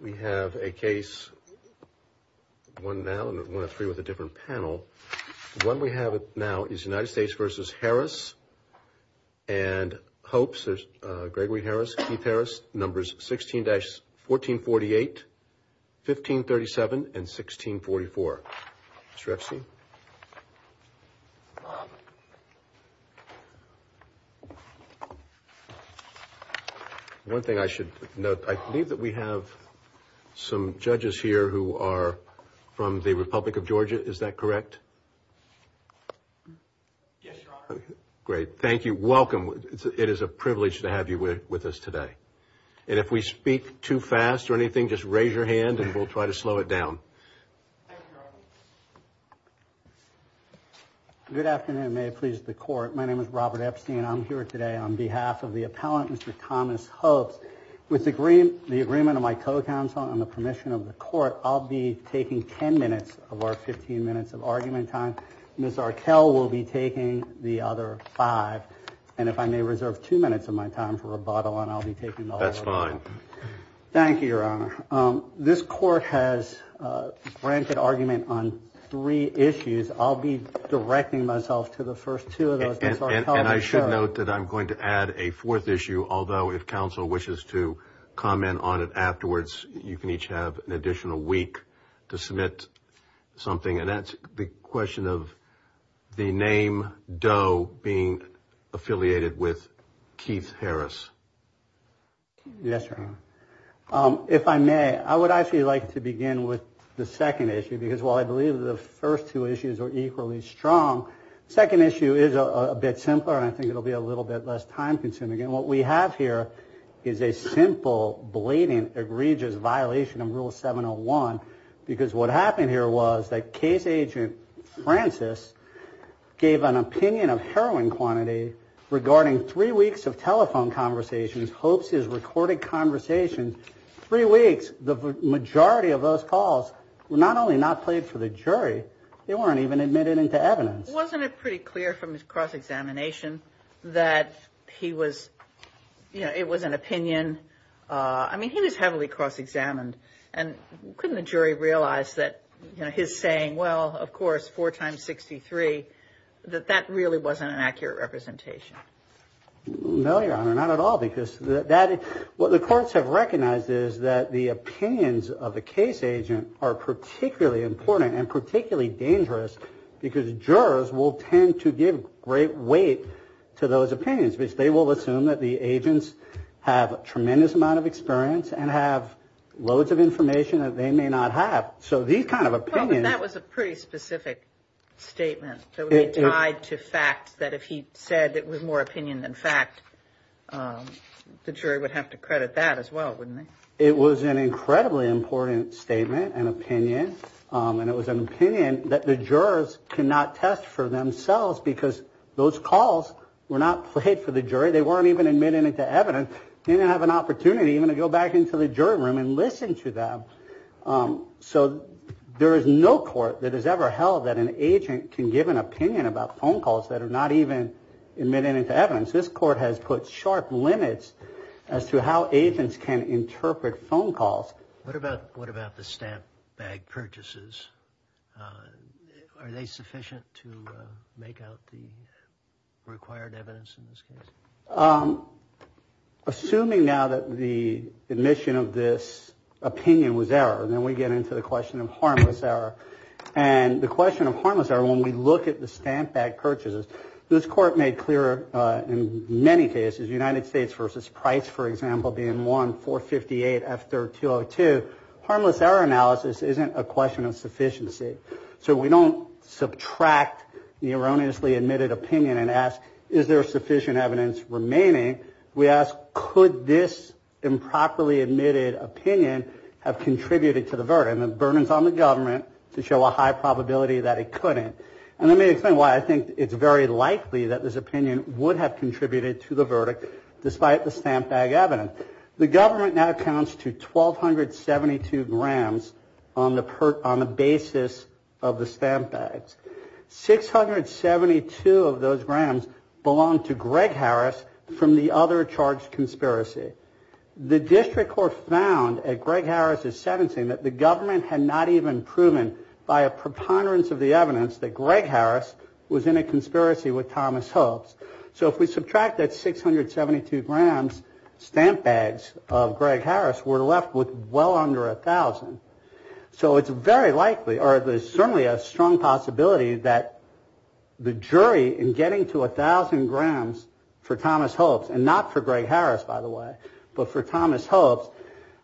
We have a case, one now and one of three with a different panel. One we have now is United States v. Harris and Hopes, there's Gregory Harris, Keith Harris, numbers 16-1448, 1537, and 1644. Mr. Epstein? One thing I should note, I believe that we have some judges here who are from the Republic of Georgia, is that correct? Yes, Your Honor. Great, thank you. Welcome. It is a privilege to have you with us today. And if we speak too fast or anything, just raise your hand and we'll try to slow it down. Thank you, Your Honor. Good afternoon, may it please the Court. My name is Robert Epstein, I'm here today on behalf of the appellant, Mr. Thomas Hopes. With the agreement of my co-counsel and the permission of the Court, I'll be taking 10 minutes of our 15 minutes of argument time. Ms. Arkell will be taking the other five. And if I may reserve two minutes of my time for rebuttal and I'll be taking the other five. That's fine. Thank you, Your Honor. This Court has granted argument on three issues. I'll be directing myself to the first two of those. And I should note that I'm going to add a fourth issue, although if counsel wishes to comment on it afterwards, you can each have an additional week to submit something. And that's the question of the name Doe being affiliated with Keith Harris. Yes, Your Honor. If I may, I would actually like to begin with the second issue, because while I believe the first two issues are equally strong, the second issue is a bit simpler and I think it'll be a little bit less time consuming. And what we have here is a simple, blatant, egregious violation of Rule 701, because what happened here was that Case Agent Francis gave an opinion of heroin quantity regarding three weeks of telephone conversations, hopes he has recorded conversations. Three weeks, the majority of those calls were not only not played for the jury, they weren't even admitted into evidence. Wasn't it pretty clear from his cross-examination that he was, you know, it was an opinion? I mean, he was heavily cross-examined and couldn't the jury realize that, you know, his saying, well, of course, four times 63, that that really wasn't an accurate representation? No, Your Honor, not at all. Because what the courts have recognized is that the opinions of a case agent are particularly important and particularly dangerous because jurors will tend to give great weight to those opinions, which they will assume that the agents have a tremendous amount of experience and have loads of information that they may not have. So these kind of opinions. That was a pretty specific statement that would be tied to fact, that if he said it was more opinion than fact, the jury would have to credit that as well, wouldn't they? It was an incredibly important statement and opinion. And it was an opinion that the jurors cannot test for themselves because those calls were not played for the jury. They weren't even admitted into evidence. They didn't have an opportunity even to go back into the jury room and listen to them. So there is no court that has ever held that an agent can give an opinion about phone calls that are not even admitted into evidence. This court has put sharp limits as to how agents can interpret phone calls. What about what about the stamp bag purchases? Are they sufficient to make out the required evidence in this case? Assuming now that the admission of this opinion was error, then we get into the question of harmless error. And the question of harmless error, when we look at the stamp bag purchases, this court made clear in many cases United States versus Price, for example, being 1458 after 202. Harmless error analysis isn't a question of sufficiency. So we don't subtract the erroneously admitted opinion and ask, is there sufficient evidence remaining? We ask, could this improperly admitted opinion have contributed to the burden of burdens on the government to show a high probability that it couldn't? And let me explain why I think it's very likely that this opinion would have contributed to the verdict. Despite the stamp bag evidence, the government now accounts to twelve hundred seventy two grams on the on the basis of the stamp bags. Six hundred seventy two of those grams belong to Greg Harris from the other charged conspiracy. The district court found a Greg Harris is sentencing that the government had not even proven by a preponderance of the evidence that Greg Harris was in a conspiracy with Thomas Hopes. So if we subtract that six hundred seventy two grams, stamp bags of Greg Harris were left with well under a thousand. So it's very likely or there's certainly a strong possibility that the jury in getting to a thousand grams for Thomas Hopes and not for Greg Harris, by the way, but for Thomas Hopes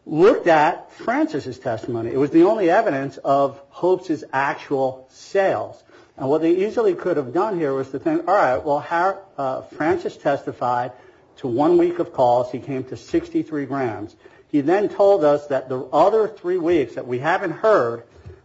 looked at Francis's testimony. It was the only evidence of hopes is actual sales. And what they easily could have done here was to think, all right, well, how Francis testified to one week of calls. He came to sixty three grams. He then told us that the other three weeks that we haven't heard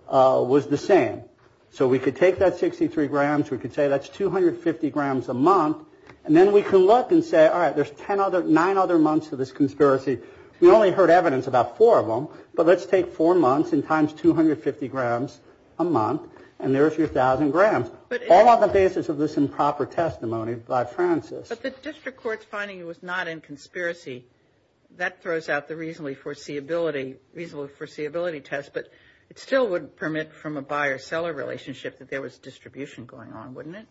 was the same. So we could take that sixty three grams. We could say that's two hundred fifty grams a month. And then we can look and say, all right, there's ten other nine other months of this conspiracy. We only heard evidence about four of them. But let's take four months and times two hundred fifty grams a month. And there's your thousand grams. But all on the basis of this improper testimony by Francis. But the district court's finding was not in conspiracy. That throws out the reasonably foreseeability, reasonable foreseeability test. But it still would permit from a buyer seller relationship that there was distribution going on, wouldn't it?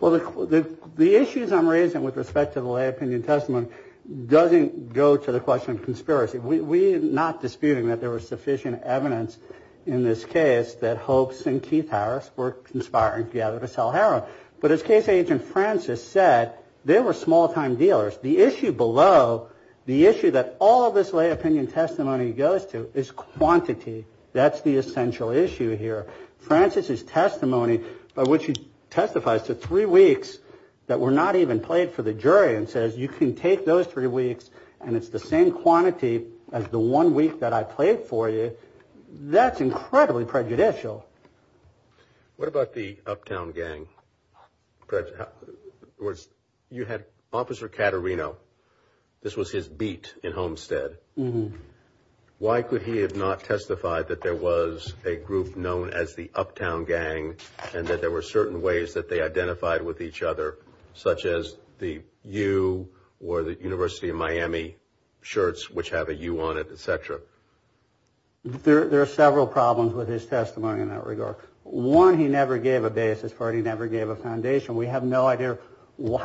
Well, the issues I'm raising with respect to the lay opinion testimony doesn't go to the question of conspiracy. We are not disputing that there was sufficient evidence in this case that hopes and Keith Harris were conspiring together to sell heroin. But as case agent Francis said, they were small time dealers. The issue below the issue that all of this lay opinion testimony goes to is quantity. That's the essential issue here. Francis's testimony by which he testifies to three weeks that were not even played for the jury and says, you can take those three weeks and it's the same quantity as the one week that I played for you. That's incredibly prejudicial. What about the uptown gang? You had Officer Caterino. This was his beat in Homestead. Why could he have not testified that there was a group known as the uptown gang and that there were certain ways that they identified with each other, such as the U or the University of Miami shirts, which have a U on it, etc. There are several problems with his testimony in that regard. One, he never gave a basis for it. He never gave a foundation. We have no idea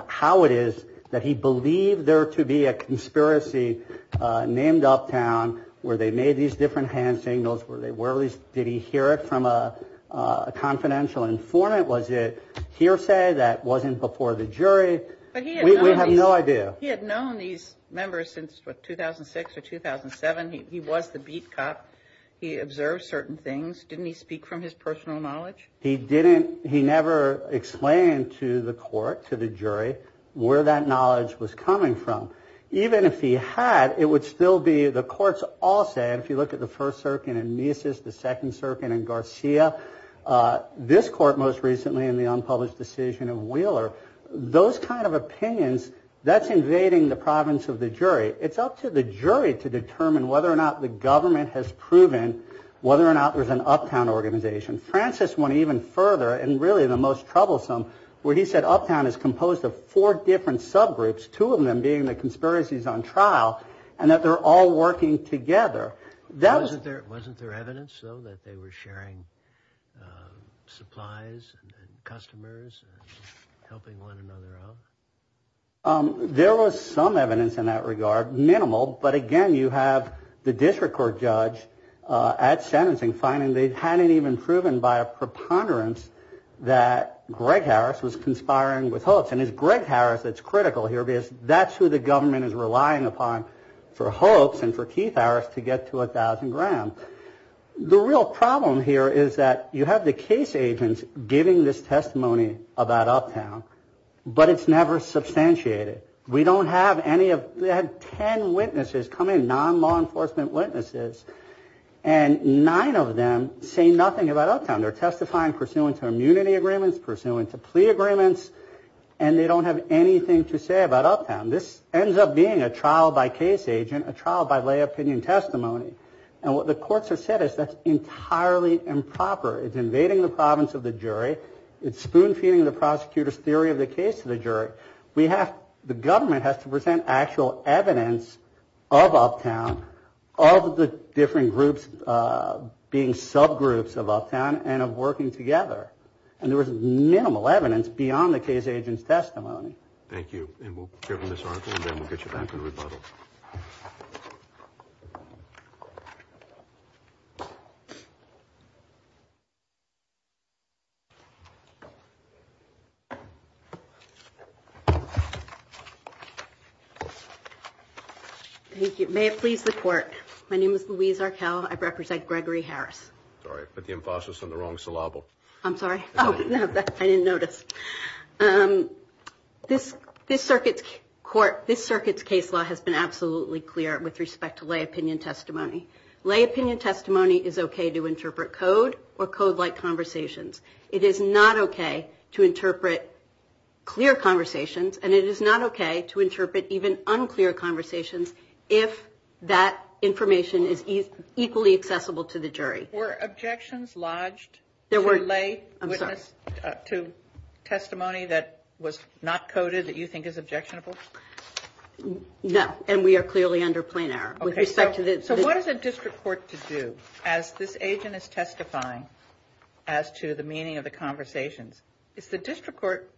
how it is that he believed there to be a conspiracy named Uptown where they made these different hand signals. Were they were these? Did he hear it from a confidential informant? Was it hearsay that wasn't before the jury? We have no idea. He had known these members since 2006 or 2007. He was the beat cop. He observed certain things. Didn't he speak from his personal knowledge? He didn't. He never explained to the court, to the jury, where that knowledge was coming from. Even if he had, it would still be the courts all say. If you look at the first circuit in Mises, the second circuit in Garcia, this court most recently in the unpublished decision of Wheeler, those kind of opinions that's invading the province of the jury. It's up to the jury to determine whether or not the government has proven whether or not there's an Uptown organization. Francis went even further and really the most troublesome, where he said Uptown is composed of four different subgroups, two of them being the conspiracies on trial, and that they're all working together. That wasn't there. Wasn't there evidence, though, that they were sharing supplies and customers helping one another out? There was some evidence in that regard, minimal. But again, you have the district court judge at sentencing finding they hadn't even proven by a preponderance that Greg Harris was conspiring with Hopes. And it's Greg Harris that's critical here because that's who the government is relying upon for Hopes and for Keith Harris to get to a thousand grand. The real problem here is that you have the case agents giving this testimony about Uptown, but it's never substantiated. We don't have any of that. Ten witnesses come in, non-law enforcement witnesses, and nine of them say nothing about Uptown. They're testifying pursuant to immunity agreements, pursuant to plea agreements, and they don't have anything to say about Uptown. This ends up being a trial by case agent, a trial by lay opinion testimony. And what the courts have said is that's entirely improper. It's invading the province of the jury. It's spoon-feeding the prosecutor's theory of the case to the jury. The government has to present actual evidence of Uptown, of the different groups being subgroups of Uptown and of working together. And there was minimal evidence beyond the case agent's testimony. Thank you. And we'll give them this article, and then we'll get you back in rebuttal. Thank you. May it please the court. My name is Louise Arkell. I represent Gregory Harris. Sorry, I put the emphasis on the wrong syllable. I'm sorry. I didn't notice. This circuit's case law has been absolutely clear with respect to lay opinion testimony. Lay opinion testimony is okay to interpret code or code-like conversations. It is not okay to interpret clear conversations, and it is not okay to interpret even unclear conversations if that information is equally accessible to the jury. Were objections lodged to testimony that was not coded that you think is objectionable? No, and we are clearly under plain error. So what is a district court to do as this agent is testifying as to the meaning of the conversations? Is the district court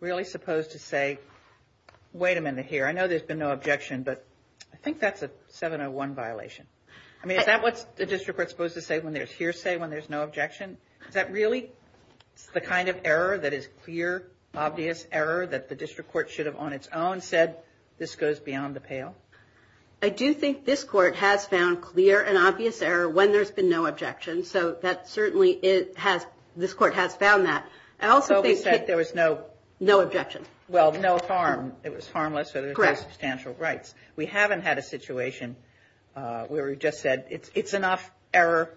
really supposed to say, wait a minute here, I know there's been no objection, but I think that's a 701 violation. I mean, is that what the district court is supposed to say when there's hearsay, when there's no objection? Is that really the kind of error that is clear, obvious error that the district court should have on its own said, this goes beyond the pale? I do think this court has found clear and obvious error when there's been no objection. So that certainly it has, this court has found that. So we said there was no. No objection. Well, no harm. It was harmless, so there's no substantial rights. We haven't had a situation where we just said it's enough error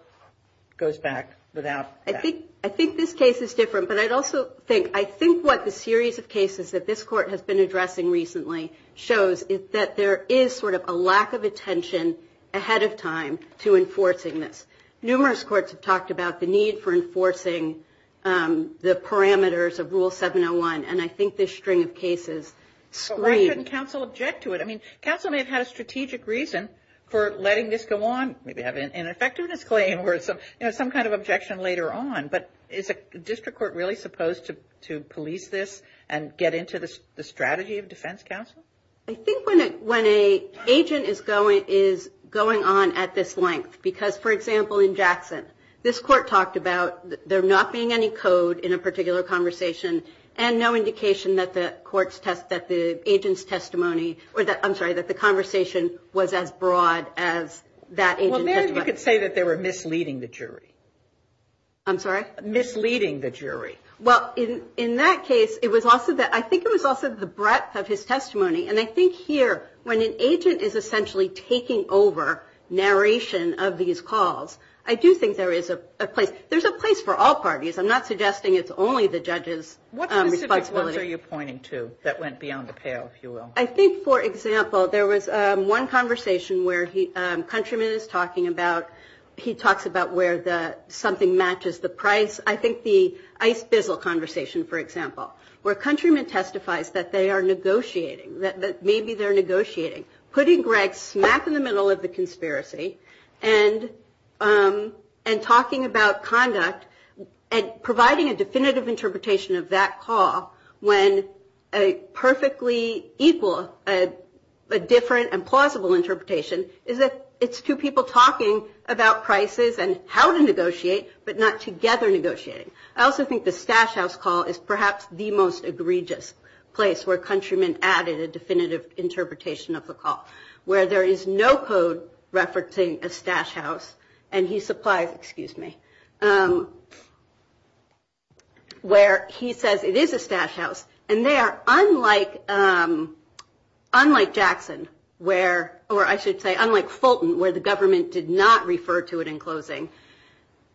goes back without. I think I think this case is different, but I'd also think I think what the series of cases that this court has been addressing recently shows that there is sort of a lack of attention ahead of time to enforcing this. Numerous courts have talked about the need for enforcing the parameters of Rule 701. And I think this string of cases screened. Why couldn't counsel object to it? I mean, counsel may have had a strategic reason for letting this go on. Maybe have an ineffectiveness claim or some kind of objection later on. But is a district court really supposed to to police this and get into the strategy of defense counsel? I think when a when a agent is going is going on at this length, because, for example, in Jackson, this court talked about there not being any code in a particular conversation and no indication that the courts test that the agent's testimony or that I'm sorry, that the conversation was as broad as that. You could say that they were misleading the jury. I'm sorry, misleading the jury. Well, in in that case, it was also that I think it was also the breadth of his testimony. And I think here when an agent is essentially taking over narration of these calls, I do think there is a place. There's a place for all parties. I'm not suggesting it's only the judges. What specific ones are you pointing to that went beyond the pale, if you will? I think, for example, there was one conversation where he countrymen is talking about. He talks about where the something matches the price. I think the ice is a conversation, for example, where countrymen testifies that they are negotiating that maybe they're negotiating, putting Greg smack in the middle of the conspiracy and and talking about conduct and providing a definitive interpretation of that call. When a perfectly equal, different and plausible interpretation is that it's two people talking about prices and how to negotiate, but not together negotiating. I also think the stash house call is perhaps the most egregious place where countrymen added a definitive interpretation of the call, where there is no code referencing a stash house. And he supplies excuse me, where he says it is a stash house. And they are unlike unlike Jackson, where or I should say, unlike Fulton, where the government did not refer to it in closing.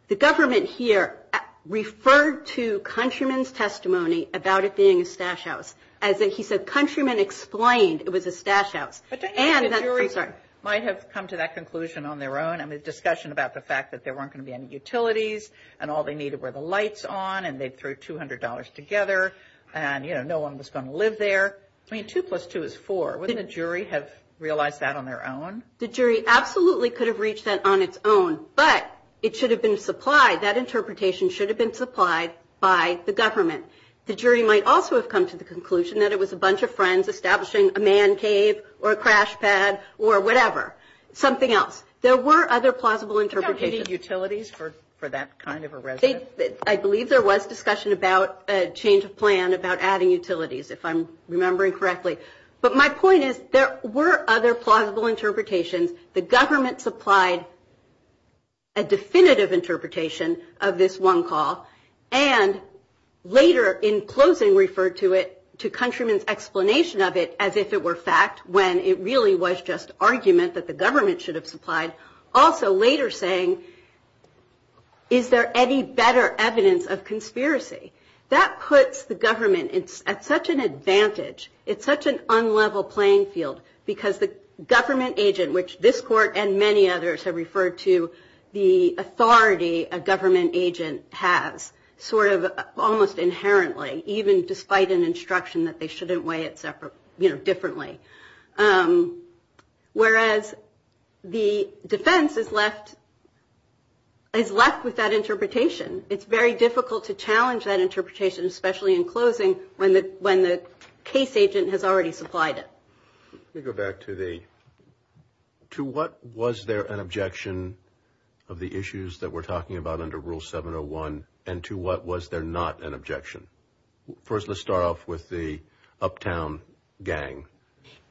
The government here referred to countrymen's testimony about it being a stash house. As he said, countrymen explained it was a stash house. And I'm sorry, might have come to that conclusion on their own. I mean, discussion about the fact that there weren't going to be any utilities and all they needed were the lights on. And they threw two hundred dollars together. And, you know, no one was going to live there. I mean, two plus two is four within a jury have realized that on their own. The jury absolutely could have reached that on its own. But it should have been supplied. That interpretation should have been supplied by the government. The jury might also have come to the conclusion that it was a bunch of friends establishing a man cave or a crash pad or whatever. Something else. There were other plausible interpretation utilities for for that kind of a race. I believe there was discussion about a change of plan about adding utilities, if I'm remembering correctly. But my point is, there were other plausible interpretations. The government supplied. A definitive interpretation of this one call. And later in closing, referred to it to countrymen's explanation of it as if it were fact, when it really was just argument that the government should have supplied. Also later saying. Is there any better evidence of conspiracy that puts the government at such an advantage? It's such an unlevel playing field because the government agent, which this court and many others have referred to, the authority a government agent has sort of almost inherently, even despite an instruction that they shouldn't weigh it separately differently. Whereas the defense is left. Is left with that interpretation. It's very difficult to challenge that interpretation, especially in closing. When the when the case agent has already supplied it. We go back to the. To what was there an objection of the issues that we're talking about under rule seven or one? And to what was there not an objection? First, let's start off with the uptown gang.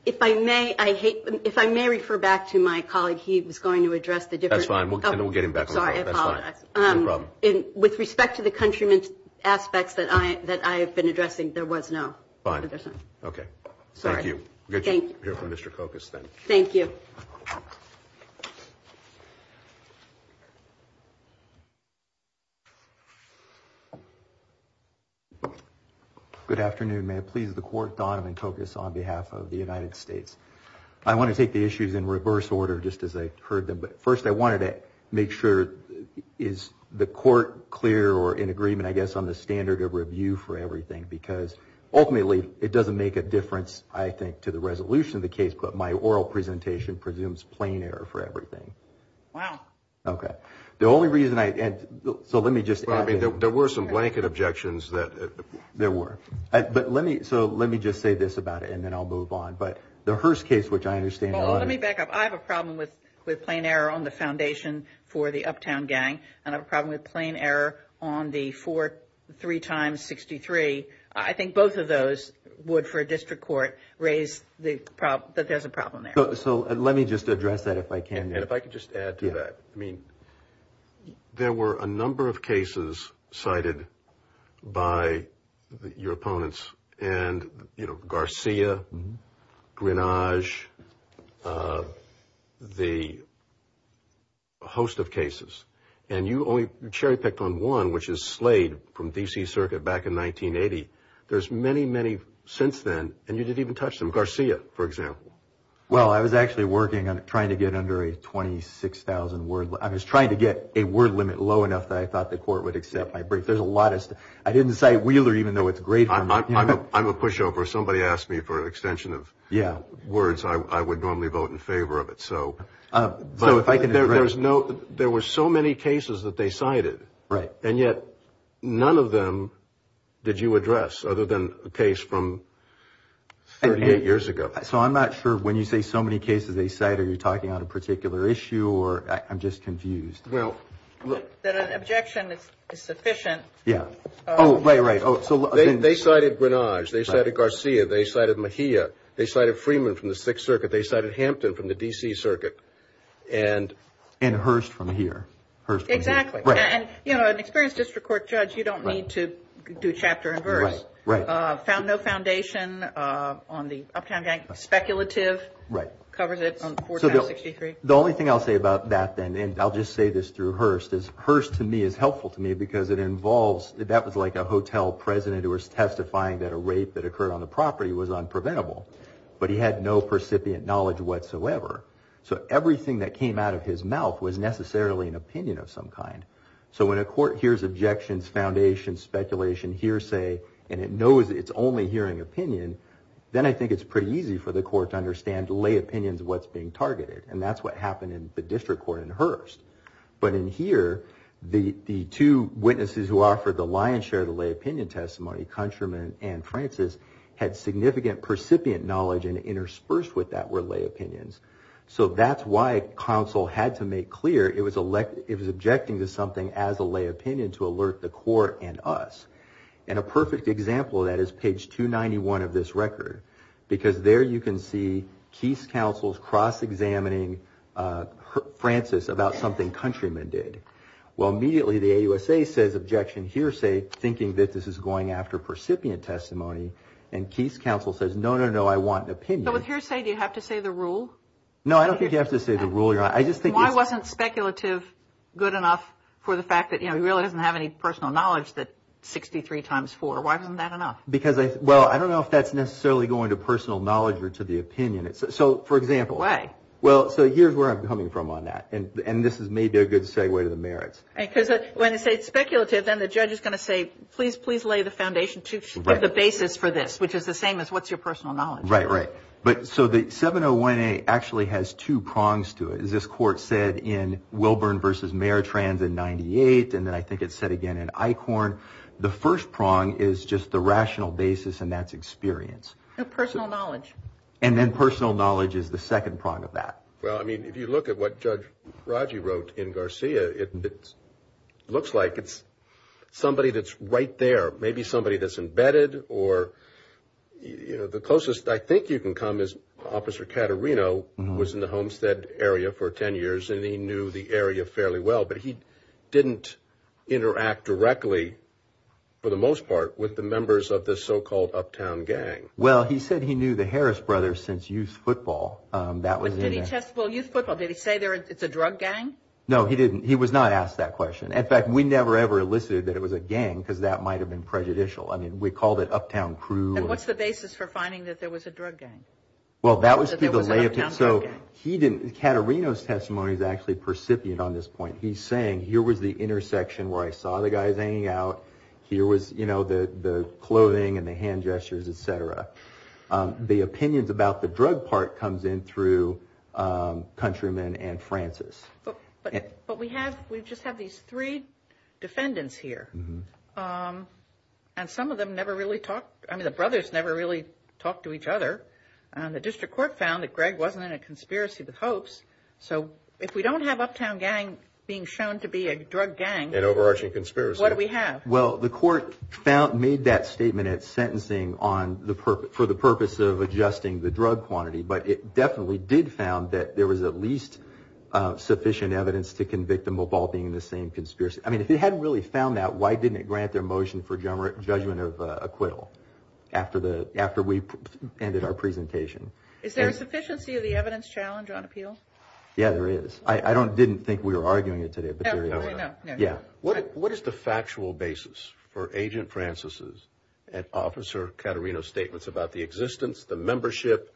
If I may, I hate if I may refer back to my colleague. He was going to address the difference. We'll get him back. With respect to the countrymen's aspects that I that I have been addressing, there was no. OK. Thank you. Thank you, Mr. Cocos. Thank you. Good afternoon. May it please the court. Donovan Cocos on behalf of the United States. I want to take the issues in reverse order, just as I heard them. First, I wanted to make sure. Is the court clear or in agreement, I guess, on the standard of review for everything? Because ultimately it doesn't make a difference, I think, to the resolution of the case. But my oral presentation presumes plain error for everything. Wow. OK. The only reason I. So let me just. I mean, there were some blanket objections that there were. But let me. So let me just say this about it and then I'll move on. But the Hearst case, which I understand. Let me back up. I have a problem with with plain error on the foundation for the Uptown gang and a problem with plain error on the four. Three times. Sixty three. I think both of those would, for a district court, raise the problem that there's a problem there. So let me just address that if I can. And if I could just add to that. I mean, there were a number of cases cited by your opponents and, you know, Garcia, Greenwich, the. A host of cases and you only cherry picked on one, which is slayed from D.C. Circuit back in 1980. There's many, many since then. And you didn't even touch them. Garcia, for example. Well, I was actually working on trying to get under a twenty six thousand word. I was trying to get a word limit low enough that I thought the court would accept my brief. There's a lot. I didn't say Wheeler, even though it's great. I'm a pushover. Somebody asked me for an extension of words. I would normally vote in favor of it. So. So if I can. There's no. There were so many cases that they cited. Right. And yet none of them. Did you address other than a case from. Eight years ago. So I'm not sure when you say so many cases, they say, are you talking on a particular issue or I'm just confused. Well, look, that objection is sufficient. Yeah. Oh, right. Right. So they cited Greenwich. They cited Garcia. They cited Mejia. They cited Freeman from the Sixth Circuit. They cited Hampton from the D.C. Circuit and. And Hearst from here. Exactly. And, you know, an experienced district court judge, you don't need to do chapter and verse. Right. Found no foundation on the Uptown Gang. Speculative. Right. Covers it on 463. The only thing I'll say about that, then, and I'll just say this through Hearst, is Hearst to me is helpful to me because it involves. That was like a hotel president who was testifying that a rape that occurred on the property was unpreventable. But he had no percipient knowledge whatsoever. So everything that came out of his mouth was necessarily an opinion of some kind. So when a court hears objections, foundation, speculation, hearsay, and it knows it's only hearing opinion. Then I think it's pretty easy for the court to understand the lay opinions of what's being targeted. And that's what happened in the district court in Hearst. But in here, the two witnesses who offered the lion's share of the lay opinion testimony, Countryman and Francis, had significant percipient knowledge and interspersed with that were lay opinions. So that's why counsel had to make clear it was objecting to something as a lay opinion to alert the court and us. And a perfect example of that is page 291 of this record. Because there you can see Keese counsel's cross-examining Francis about something Countryman did. Well, immediately the AUSA says objection hearsay, thinking that this is going after percipient testimony. And Keese counsel says, no, no, no, I want an opinion. So with hearsay, do you have to say the rule? No, I don't think you have to say the rule. Why wasn't speculative good enough for the fact that he really doesn't have any personal knowledge that 63 times 4? Why wasn't that enough? Well, I don't know if that's necessarily going to personal knowledge or to the opinion. So, for example. Why? Well, so here's where I'm coming from on that. And this is maybe a good segue to the merits. Because when they say speculative, then the judge is going to say, please, please lay the foundation of the basis for this, which is the same as what's your personal knowledge. Right, right. But so the 701A actually has two prongs to it. As this court said in Wilburn v. Maritrans in 98, and then I think it's said again in Eichhorn. The first prong is just the rational basis, and that's experience. No, personal knowledge. And then personal knowledge is the second prong of that. Well, I mean, if you look at what Judge Raji wrote in Garcia, it looks like it's somebody that's right there. Or maybe somebody that's embedded. Or, you know, the closest I think you can come is Officer Caterino was in the Homestead area for 10 years, and he knew the area fairly well. But he didn't interact directly, for the most part, with the members of this so-called uptown gang. Well, he said he knew the Harris brothers since youth football. Did he say it's a drug gang? No, he didn't. He was not asked that question. In fact, we never, ever elicited that it was a gang because that might have been prejudicial. I mean, we called it uptown crew. And what's the basis for finding that there was a drug gang? Well, that was through the lay of town. So he didn't – Caterino's testimony is actually percipient on this point. He's saying here was the intersection where I saw the guys hanging out. Here was, you know, the clothing and the hand gestures, et cetera. The opinions about the drug part comes in through Countryman and Francis. But we have – we just have these three defendants here. And some of them never really talked – I mean, the brothers never really talked to each other. And the district court found that Greg wasn't in a conspiracy with Hopes. So if we don't have uptown gang being shown to be a drug gang, what do we have? Well, the court made that statement at sentencing for the purpose of adjusting the drug quantity. But it definitely did found that there was at least sufficient evidence to convict them of all being in the same conspiracy. I mean, if it hadn't really found that, why didn't it grant their motion for judgment of acquittal after we ended our presentation? Is there a sufficiency of the evidence challenge on appeal? Yeah, there is. I didn't think we were arguing it today, but there is. No, no. Yeah. What is the factual basis for Agent Francis' and Officer Caterino's statements about the existence, the membership,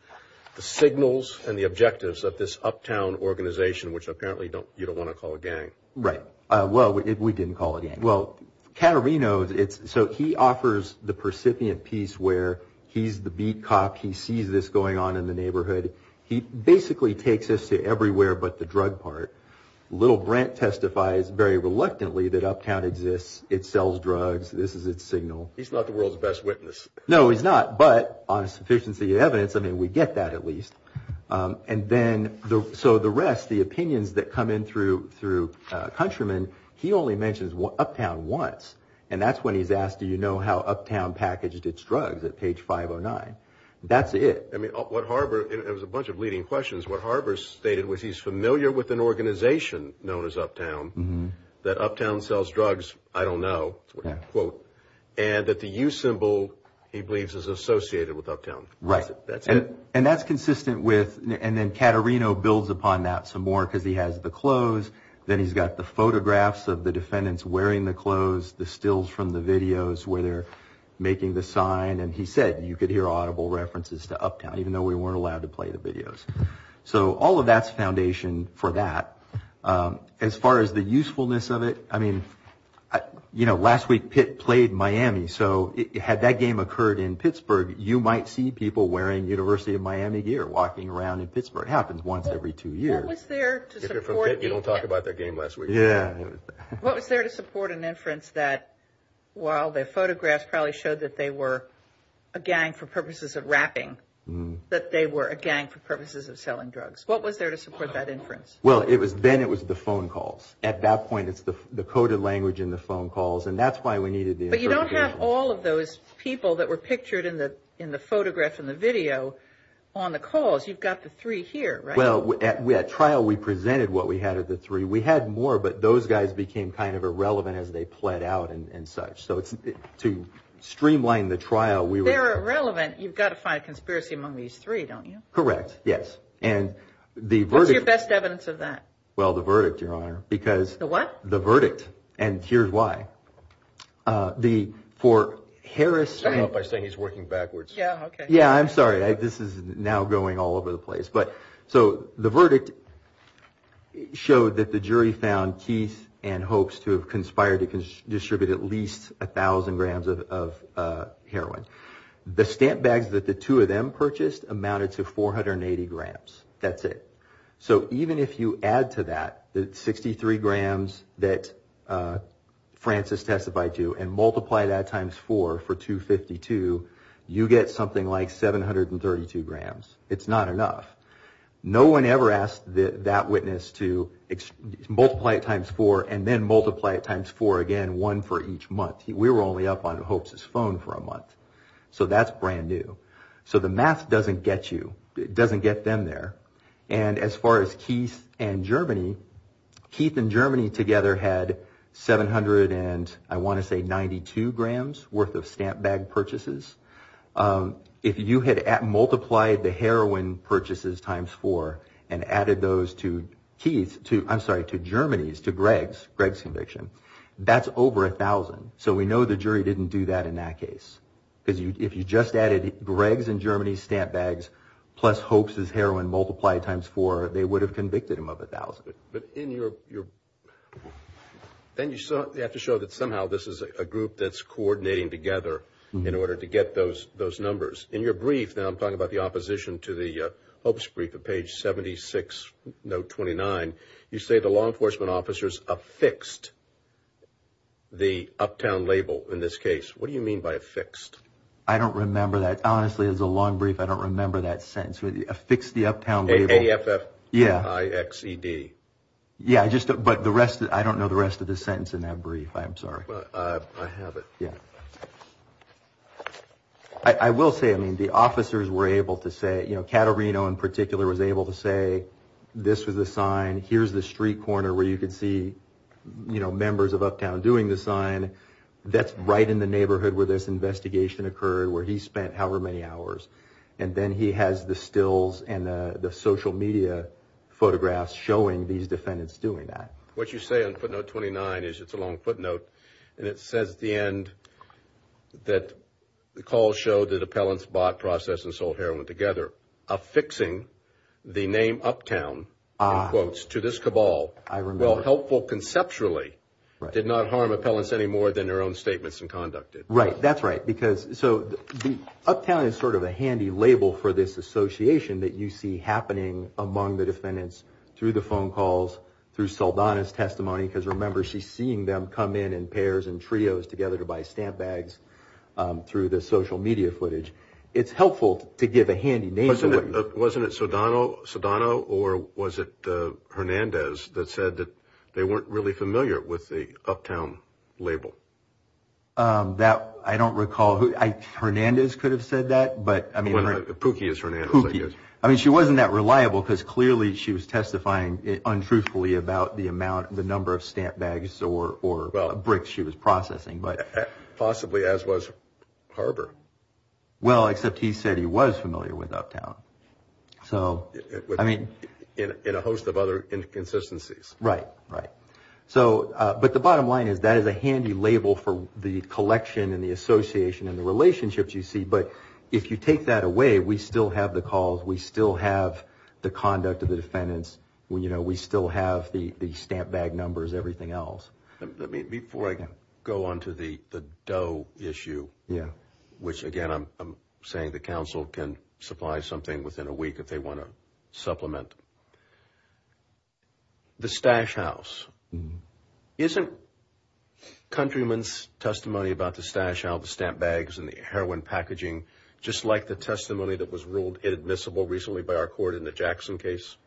the signals, and the objectives of this uptown organization, which apparently you don't want to call a gang? Right. Well, we didn't call it a gang. Well, Caterino's – so he offers the percipient piece where he's the beat cop. He sees this going on in the neighborhood. He basically takes us to everywhere but the drug part. Little Brent testifies very reluctantly that uptown exists. It sells drugs. This is its signal. He's not the world's best witness. No, he's not. But on sufficiency of evidence, I mean, we get that at least. And then – so the rest, the opinions that come in through Countryman, he only mentions uptown once. And that's when he's asked, do you know how uptown packaged its drugs at page 509. That's it. I mean, what Harbor – it was a bunch of leading questions. What Harbor stated was he's familiar with an organization known as uptown, that uptown sells drugs, I don't know, quote, and that the U symbol, he believes, is associated with uptown. Right. That's it. And that's consistent with – and then Caterino builds upon that some more because he has the clothes. Then he's got the photographs of the defendants wearing the clothes, the stills from the videos where they're making the sign. And he said you could hear audible references to uptown, even though we weren't allowed to play the videos. So all of that's foundation for that. As far as the usefulness of it, I mean, you know, last week Pitt played Miami. So had that game occurred in Pittsburgh, you might see people wearing University of Miami gear walking around in Pittsburgh. It happens once every two years. What was there to support the – If you're from Pitt, you don't talk about their game last week. Yeah. What was there to support an inference that while their photographs probably showed that they were a gang for purposes of rapping, that they were a gang for purposes of selling drugs? What was there to support that inference? Well, it was – then it was the phone calls. At that point, it's the coded language in the phone calls, and that's why we needed the – But you don't have all of those people that were pictured in the photograph and the video on the calls. You've got the three here, right? Well, at trial, we presented what we had of the three. We had more, but those guys became kind of irrelevant as they pled out and such. So to streamline the trial, we were – They're irrelevant. You've got to find a conspiracy among these three, don't you? Correct. Yes. And the verdict – What's your best evidence of that? Well, the verdict, Your Honor, because – The what? The verdict, and here's why. The – for Harris – Stop by saying he's working backwards. Yeah, okay. Yeah, I'm sorry. This is now going all over the place. So the verdict showed that the jury found Keith and hopes to have conspired to distribute at least 1,000 grams of heroin. The stamp bags that the two of them purchased amounted to 480 grams. That's it. So even if you add to that the 63 grams that Francis testified to and multiply that times four for 252, you get something like 732 grams. It's not enough. No one ever asked that witness to multiply it times four and then multiply it times four again, one for each month. We were only up on hopes' phone for a month. So that's brand new. So the math doesn't get you. It doesn't get them there. And as far as Keith and Germany, Keith and Germany together had 792 grams worth of stamp bag purchases. If you had multiplied the heroin purchases times four and added those to Keith's, I'm sorry, to Germany's, to Greg's conviction, that's over 1,000. So we know the jury didn't do that in that case. Because if you just added Greg's and Germany's stamp bags plus hopes' heroin multiplied times four, they would have convicted him of 1,000. But then you have to show that somehow this is a group that's coordinating together in order to get those numbers. In your brief, and I'm talking about the opposition to the hopes brief at page 76, note 29, you say the law enforcement officers affixed the Uptown label in this case. What do you mean by affixed? I don't remember that. Honestly, it was a long brief. I don't remember that sentence. Affixed the Uptown label. A-F-F-I-X-E-D. Yeah, but I don't know the rest of the sentence in that brief. I'm sorry. I have it. Yeah. I will say, I mean, the officers were able to say, you know, Caterino in particular was able to say this was the sign, here's the street corner where you could see, you know, members of Uptown doing the sign. That's right in the neighborhood where this investigation occurred, where he spent however many hours. And then he has the stills and the social media photographs showing these defendants doing that. What you say on footnote 29 is, it's a long footnote, and it says at the end that the call showed that appellants bought, processed, and sold heroin together. Affixing the name Uptown, in quotes, to this cabal, well, helpful conceptually, did not harm appellants any more than their own statements and conduct did. Right. That's right. Because so Uptown is sort of a handy label for this association that you see happening among the defendants through the phone calls, through Saldana's testimony, because remember, she's seeing them come in in pairs and trios together to buy stamp bags through the social media footage. It's helpful to give a handy name. Wasn't it Saldana or was it Hernandez that said that they weren't really familiar with the Uptown label? I don't recall. Hernandez could have said that. Pukie is Hernandez, I guess. Pukie. I mean, she wasn't that reliable because clearly she was testifying untruthfully about the amount, the number of stamp bags or bricks she was processing. Possibly as was Harber. Well, except he said he was familiar with Uptown. In a host of other inconsistencies. Right. Right. But the bottom line is that is a handy label for the collection and the association and the relationships you see. But if you take that away, we still have the calls. We still have the conduct of the defendants. We still have the stamp bag numbers, everything else. Before I go on to the Doe issue, which, again, I'm saying the counsel can supply something within a week if they want to supplement. The Stash House. Isn't Countryman's testimony about the Stash House, the stamp bags and the heroin packaging, just like the testimony that was ruled inadmissible recently by our court in the Jackson case?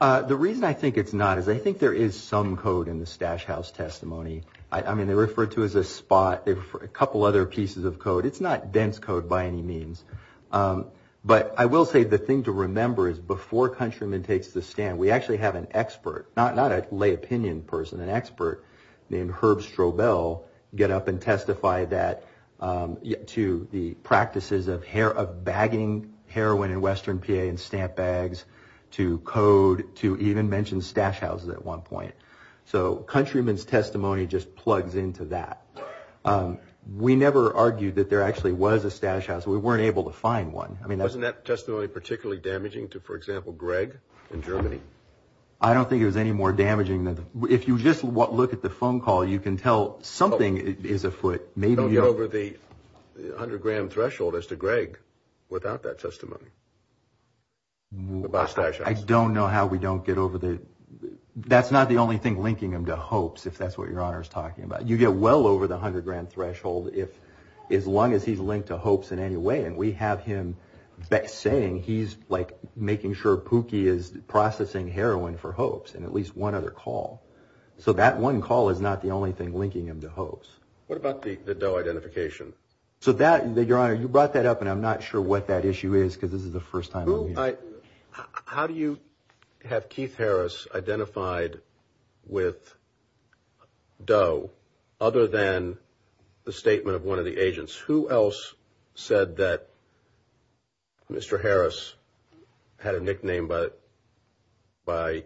The reason I think it's not is I think there is some code in the Stash House testimony. I mean, they refer to it as a spot. They refer to a couple other pieces of code. It's not dense code by any means. But I will say the thing to remember is before Countryman takes the stand, we actually have an expert, not a lay opinion person, an expert named Herb Strobel get up and testify to the practices of bagging heroin in Western PA and stamp bags to code to even mention Stash Houses at one point. So Countryman's testimony just plugs into that. We never argued that there actually was a Stash House. We weren't able to find one. Wasn't that testimony particularly damaging to, for example, Greg in Germany? I don't think it was any more damaging than that. If you just look at the phone call, you can tell something is afoot. Don't get over the 100-gram threshold as to Greg without that testimony about Stash House. I don't know how we don't get over the – that's not the only thing linking them to hopes, if that's what Your Honor is talking about. You get well over the 100-gram threshold as long as he's linked to hopes in any way. And we have him saying he's like making sure Pookie is processing heroin for hopes in at least one other call. So that one call is not the only thing linking him to hopes. What about the Doe identification? So that, Your Honor, you brought that up, and I'm not sure what that issue is because this is the first time I'm hearing it. How do you have Keith Harris identified with Doe other than the statement of one of the agents? Who else said that Mr. Harris had a nickname by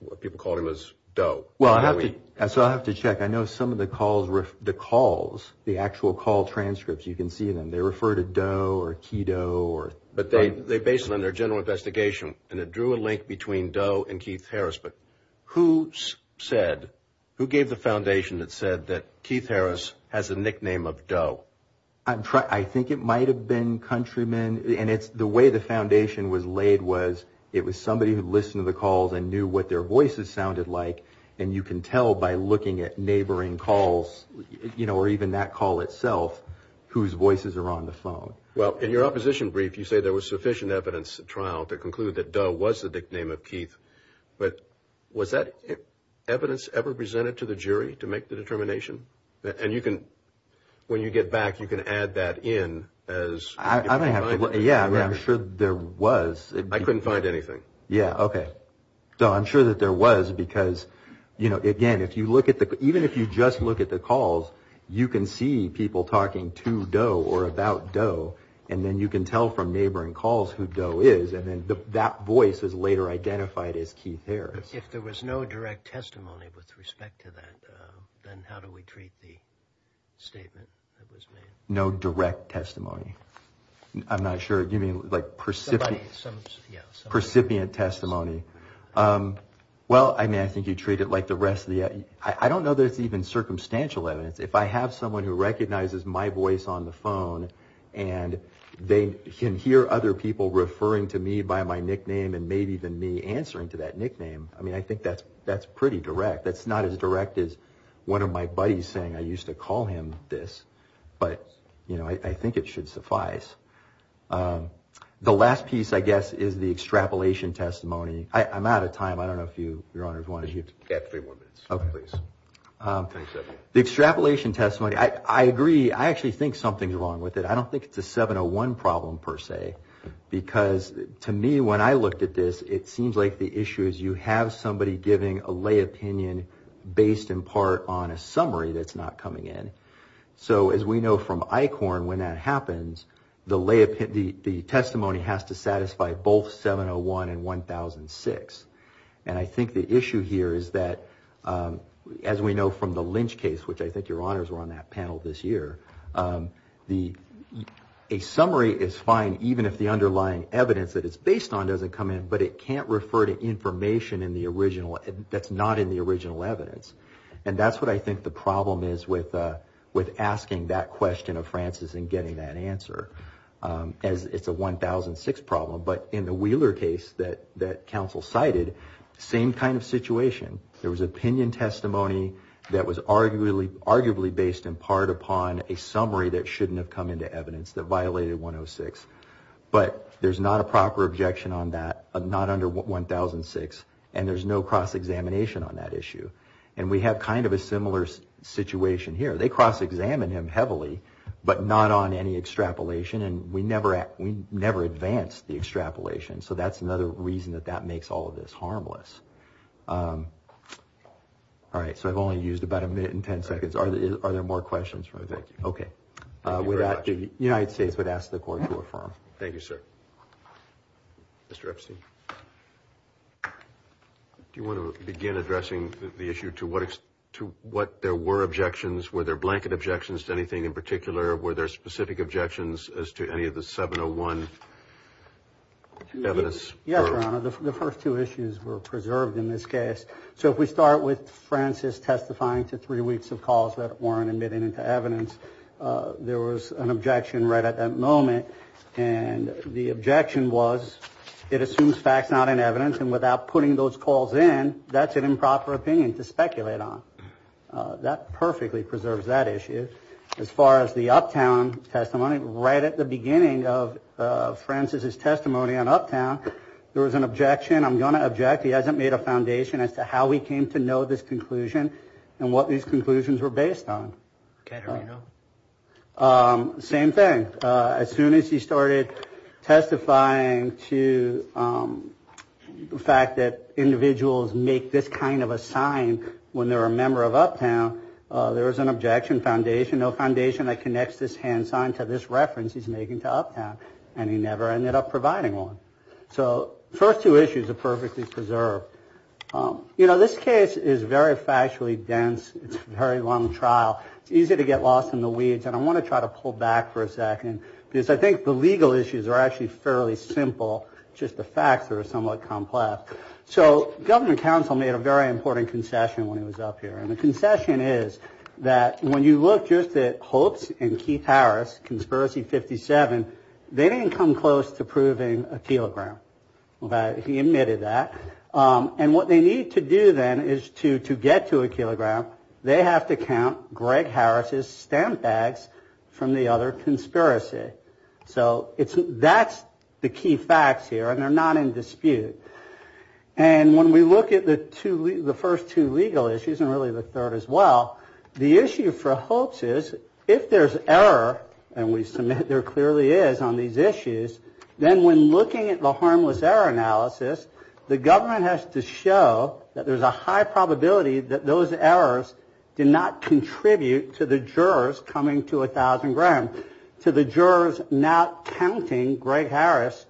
what people called him as Doe? Well, I have to – so I have to check. I know some of the calls – the calls, the actual call transcripts, you can see them. They refer to Doe or Kido or – But they base it on their general investigation, and it drew a link between Doe and Keith Harris. But who said – who gave the foundation that said that Keith Harris has a nickname of Doe? I'm trying – I think it might have been countrymen. And it's – the way the foundation was laid was it was somebody who listened to the calls and knew what their voices sounded like, and you can tell by looking at neighboring calls, you know, or even that call itself whose voices are on the phone. Well, in your opposition brief, you say there was sufficient evidence at trial to conclude that Doe was the nickname of Keith. But was that evidence ever presented to the jury to make the determination? And you can – when you get back, you can add that in as – I don't have – yeah, I'm sure there was. I couldn't find anything. Yeah, okay. So I'm sure that there was because, you know, again, if you look at the – and then you can tell from neighboring calls who Doe is, and then that voice is later identified as Keith Harris. If there was no direct testimony with respect to that, then how do we treat the statement that was made? No direct testimony? I'm not sure. You mean, like, percipient testimony? Well, I mean, I think you treat it like the rest of the – I don't know that it's even circumstantial evidence. If I have someone who recognizes my voice on the phone and they can hear other people referring to me by my nickname and maybe even me answering to that nickname, I mean, I think that's pretty direct. That's not as direct as one of my buddies saying I used to call him this. But, you know, I think it should suffice. The last piece, I guess, is the extrapolation testimony. I'm out of time. I don't know if you, Your Honors, wanted to – Yeah, three more minutes. Okay, please. The extrapolation testimony, I agree. I actually think something's wrong with it. I don't think it's a 701 problem, per se, because to me, when I looked at this, it seems like the issue is you have somebody giving a lay opinion based in part on a summary that's not coming in. So as we know from ICORN, when that happens, the testimony has to satisfy both 701 and 1006. And I think the issue here is that, as we know from the Lynch case, which I think Your Honors were on that panel this year, a summary is fine even if the underlying evidence that it's based on doesn't come in, but it can't refer to information that's not in the original evidence. And that's what I think the problem is with asking that question of Francis and getting that answer, as it's a 1006 problem. But in the Wheeler case that counsel cited, same kind of situation. There was opinion testimony that was arguably based in part upon a summary that shouldn't have come into evidence that violated 106, but there's not a proper objection on that, not under 1006, and there's no cross-examination on that issue. And we have kind of a similar situation here. They cross-examine him heavily, but not on any extrapolation, and we never advance the extrapolation. So that's another reason that that makes all of this harmless. All right. So I've only used about a minute and ten seconds. Are there more questions? Okay. The United States would ask the Court to affirm. Thank you, sir. Mr. Epstein. Do you want to begin addressing the issue to what there were objections? Were there blanket objections to anything in particular? Were there specific objections as to any of the 701 evidence? Yes, Your Honor. The first two issues were preserved in this case. So if we start with Francis testifying to three weeks of calls that weren't admitted into evidence, there was an objection right at that moment, and the objection was it assumes facts not in evidence, and without putting those calls in, that's an improper opinion to speculate on. That perfectly preserves that issue. As far as the Uptown testimony, right at the beginning of Francis's testimony on Uptown, there was an objection. I'm going to object. He hasn't made a foundation as to how he came to know this conclusion and what these conclusions were based on. Okay. There we go. Same thing. As soon as he started testifying to the fact that individuals make this kind of a sign when they're a member of Uptown, there was an objection, foundation, no foundation that connects this hand sign to this reference he's making to Uptown, and he never ended up providing one. So the first two issues are perfectly preserved. You know, this case is very factually dense. It's a very long trial. It's easy to get lost in the weeds, and I want to try to pull back for a second because I think the legal issues are actually fairly simple, just the facts are somewhat complex. So government counsel made a very important concession when he was up here, and the concession is that when you look just at Hopes and Keith Harris, conspiracy 57, they didn't come close to proving a kilogram. He admitted that. And what they need to do then is to get to a kilogram, they have to count Greg Harris's stamp bags from the other conspiracy. So that's the key facts here, and they're not in dispute. And when we look at the first two legal issues, and really the third as well, the issue for Hopes is if there's error, and we submit there clearly is on these issues, then when looking at the harmless error analysis, the government has to show that there's a high probability that those errors did not contribute to the jurors coming to a thousand grams, to the jurors not counting Greg Harris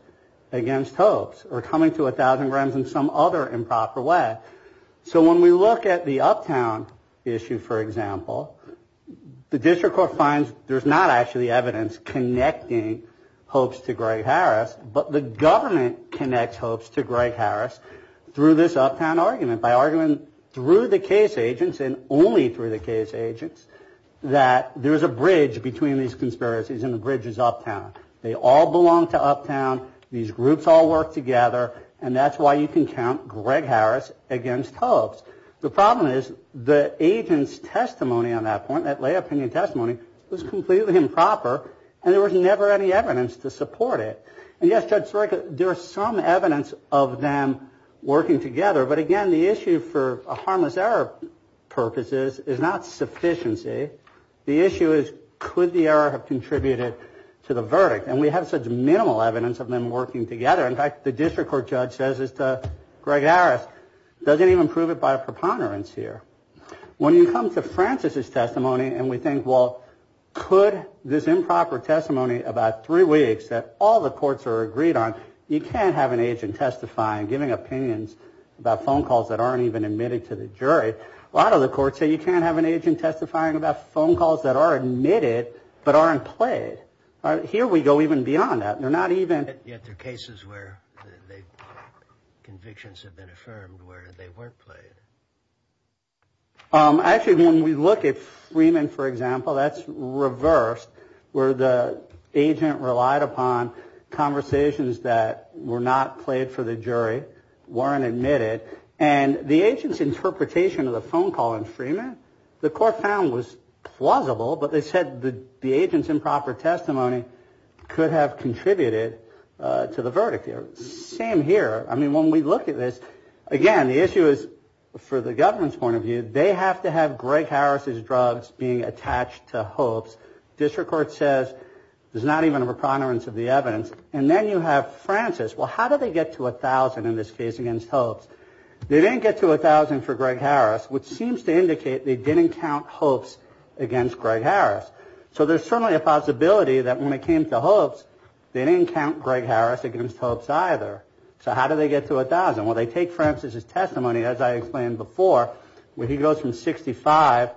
against Hopes, or coming to a thousand grams in some other improper way. So when we look at the Uptown issue, for example, the district court finds there's not actually evidence connecting Hopes to Greg Harris, but the government connects Hopes to Greg Harris through this Uptown argument, by arguing through the case agents and only through the case agents, that there's a bridge between these conspiracies, and the bridge is Uptown. They all belong to Uptown, these groups all work together, and that's why you can count Greg Harris against Hopes. The problem is the agent's testimony on that point, that lay opinion testimony, was completely improper, and there was never any evidence to support it. And yes, Judge Soreka, there is some evidence of them working together, but again, the issue for harmless error purposes is not sufficiency. The issue is, could the error have contributed to the verdict? And we have such minimal evidence of them working together. In fact, the district court judge says this to Greg Harris, doesn't even prove it by a preponderance here. When you come to Francis's testimony, and we think, well, could this improper testimony, about three weeks, that all the courts are agreed on, you can't have an agent testifying, giving opinions about phone calls that aren't even admitted to the jury. A lot of the courts say you can't have an agent testifying about phone calls that are admitted, but aren't played. Here we go even beyond that. They're not even. Yet there are cases where convictions have been affirmed where they weren't played. Actually, when we look at Freeman, for example, that's reversed, weren't admitted, and the agent's interpretation of the phone call in Freeman, the court found was plausible, but they said the agent's improper testimony could have contributed to the verdict. Same here. I mean, when we look at this, again, the issue is, for the government's point of view, they have to have Greg Harris's drugs being attached to Hope's. District court says there's not even a preponderance of the evidence. And then you have Francis. Well, how did they get to 1,000 in this case against Hope's? They didn't get to 1,000 for Greg Harris, which seems to indicate they didn't count Hope's against Greg Harris. So there's certainly a possibility that when it came to Hope's, they didn't count Greg Harris against Hope's either. So how did they get to 1,000? Well, they take Francis's testimony, as I explained before, where he goes from 65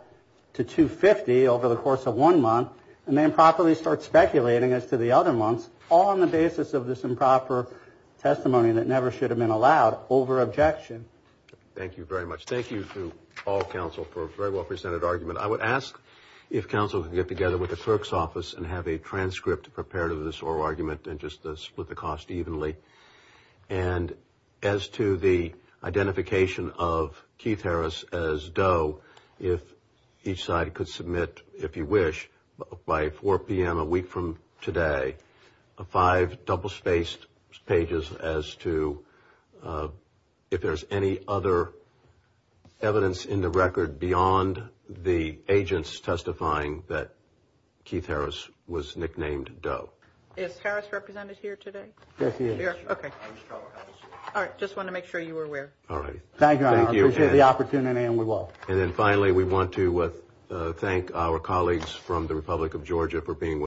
to 250 over the course of one month, and they improperly start speculating as to the other months, all on the basis of this improper testimony that never should have been allowed, over objection. Thank you very much. Thank you to all counsel for a very well-presented argument. I would ask if counsel could get together with the clerk's office and have a transcript prepared of this oral argument and just split the cost evenly. And as to the identification of Keith Harris as Doe, if each side could submit, if you wish, by 4 p.m. a week from today, five double-spaced pages as to if there's any other evidence in the record beyond the agents testifying that Keith Harris was nicknamed Doe. Is Harris represented here today? Yes, he is. Okay. All right, just wanted to make sure you were aware. All right. Thank you. I appreciate the opportunity, and we will. And then finally, we want to thank our colleagues from the Republic of Georgia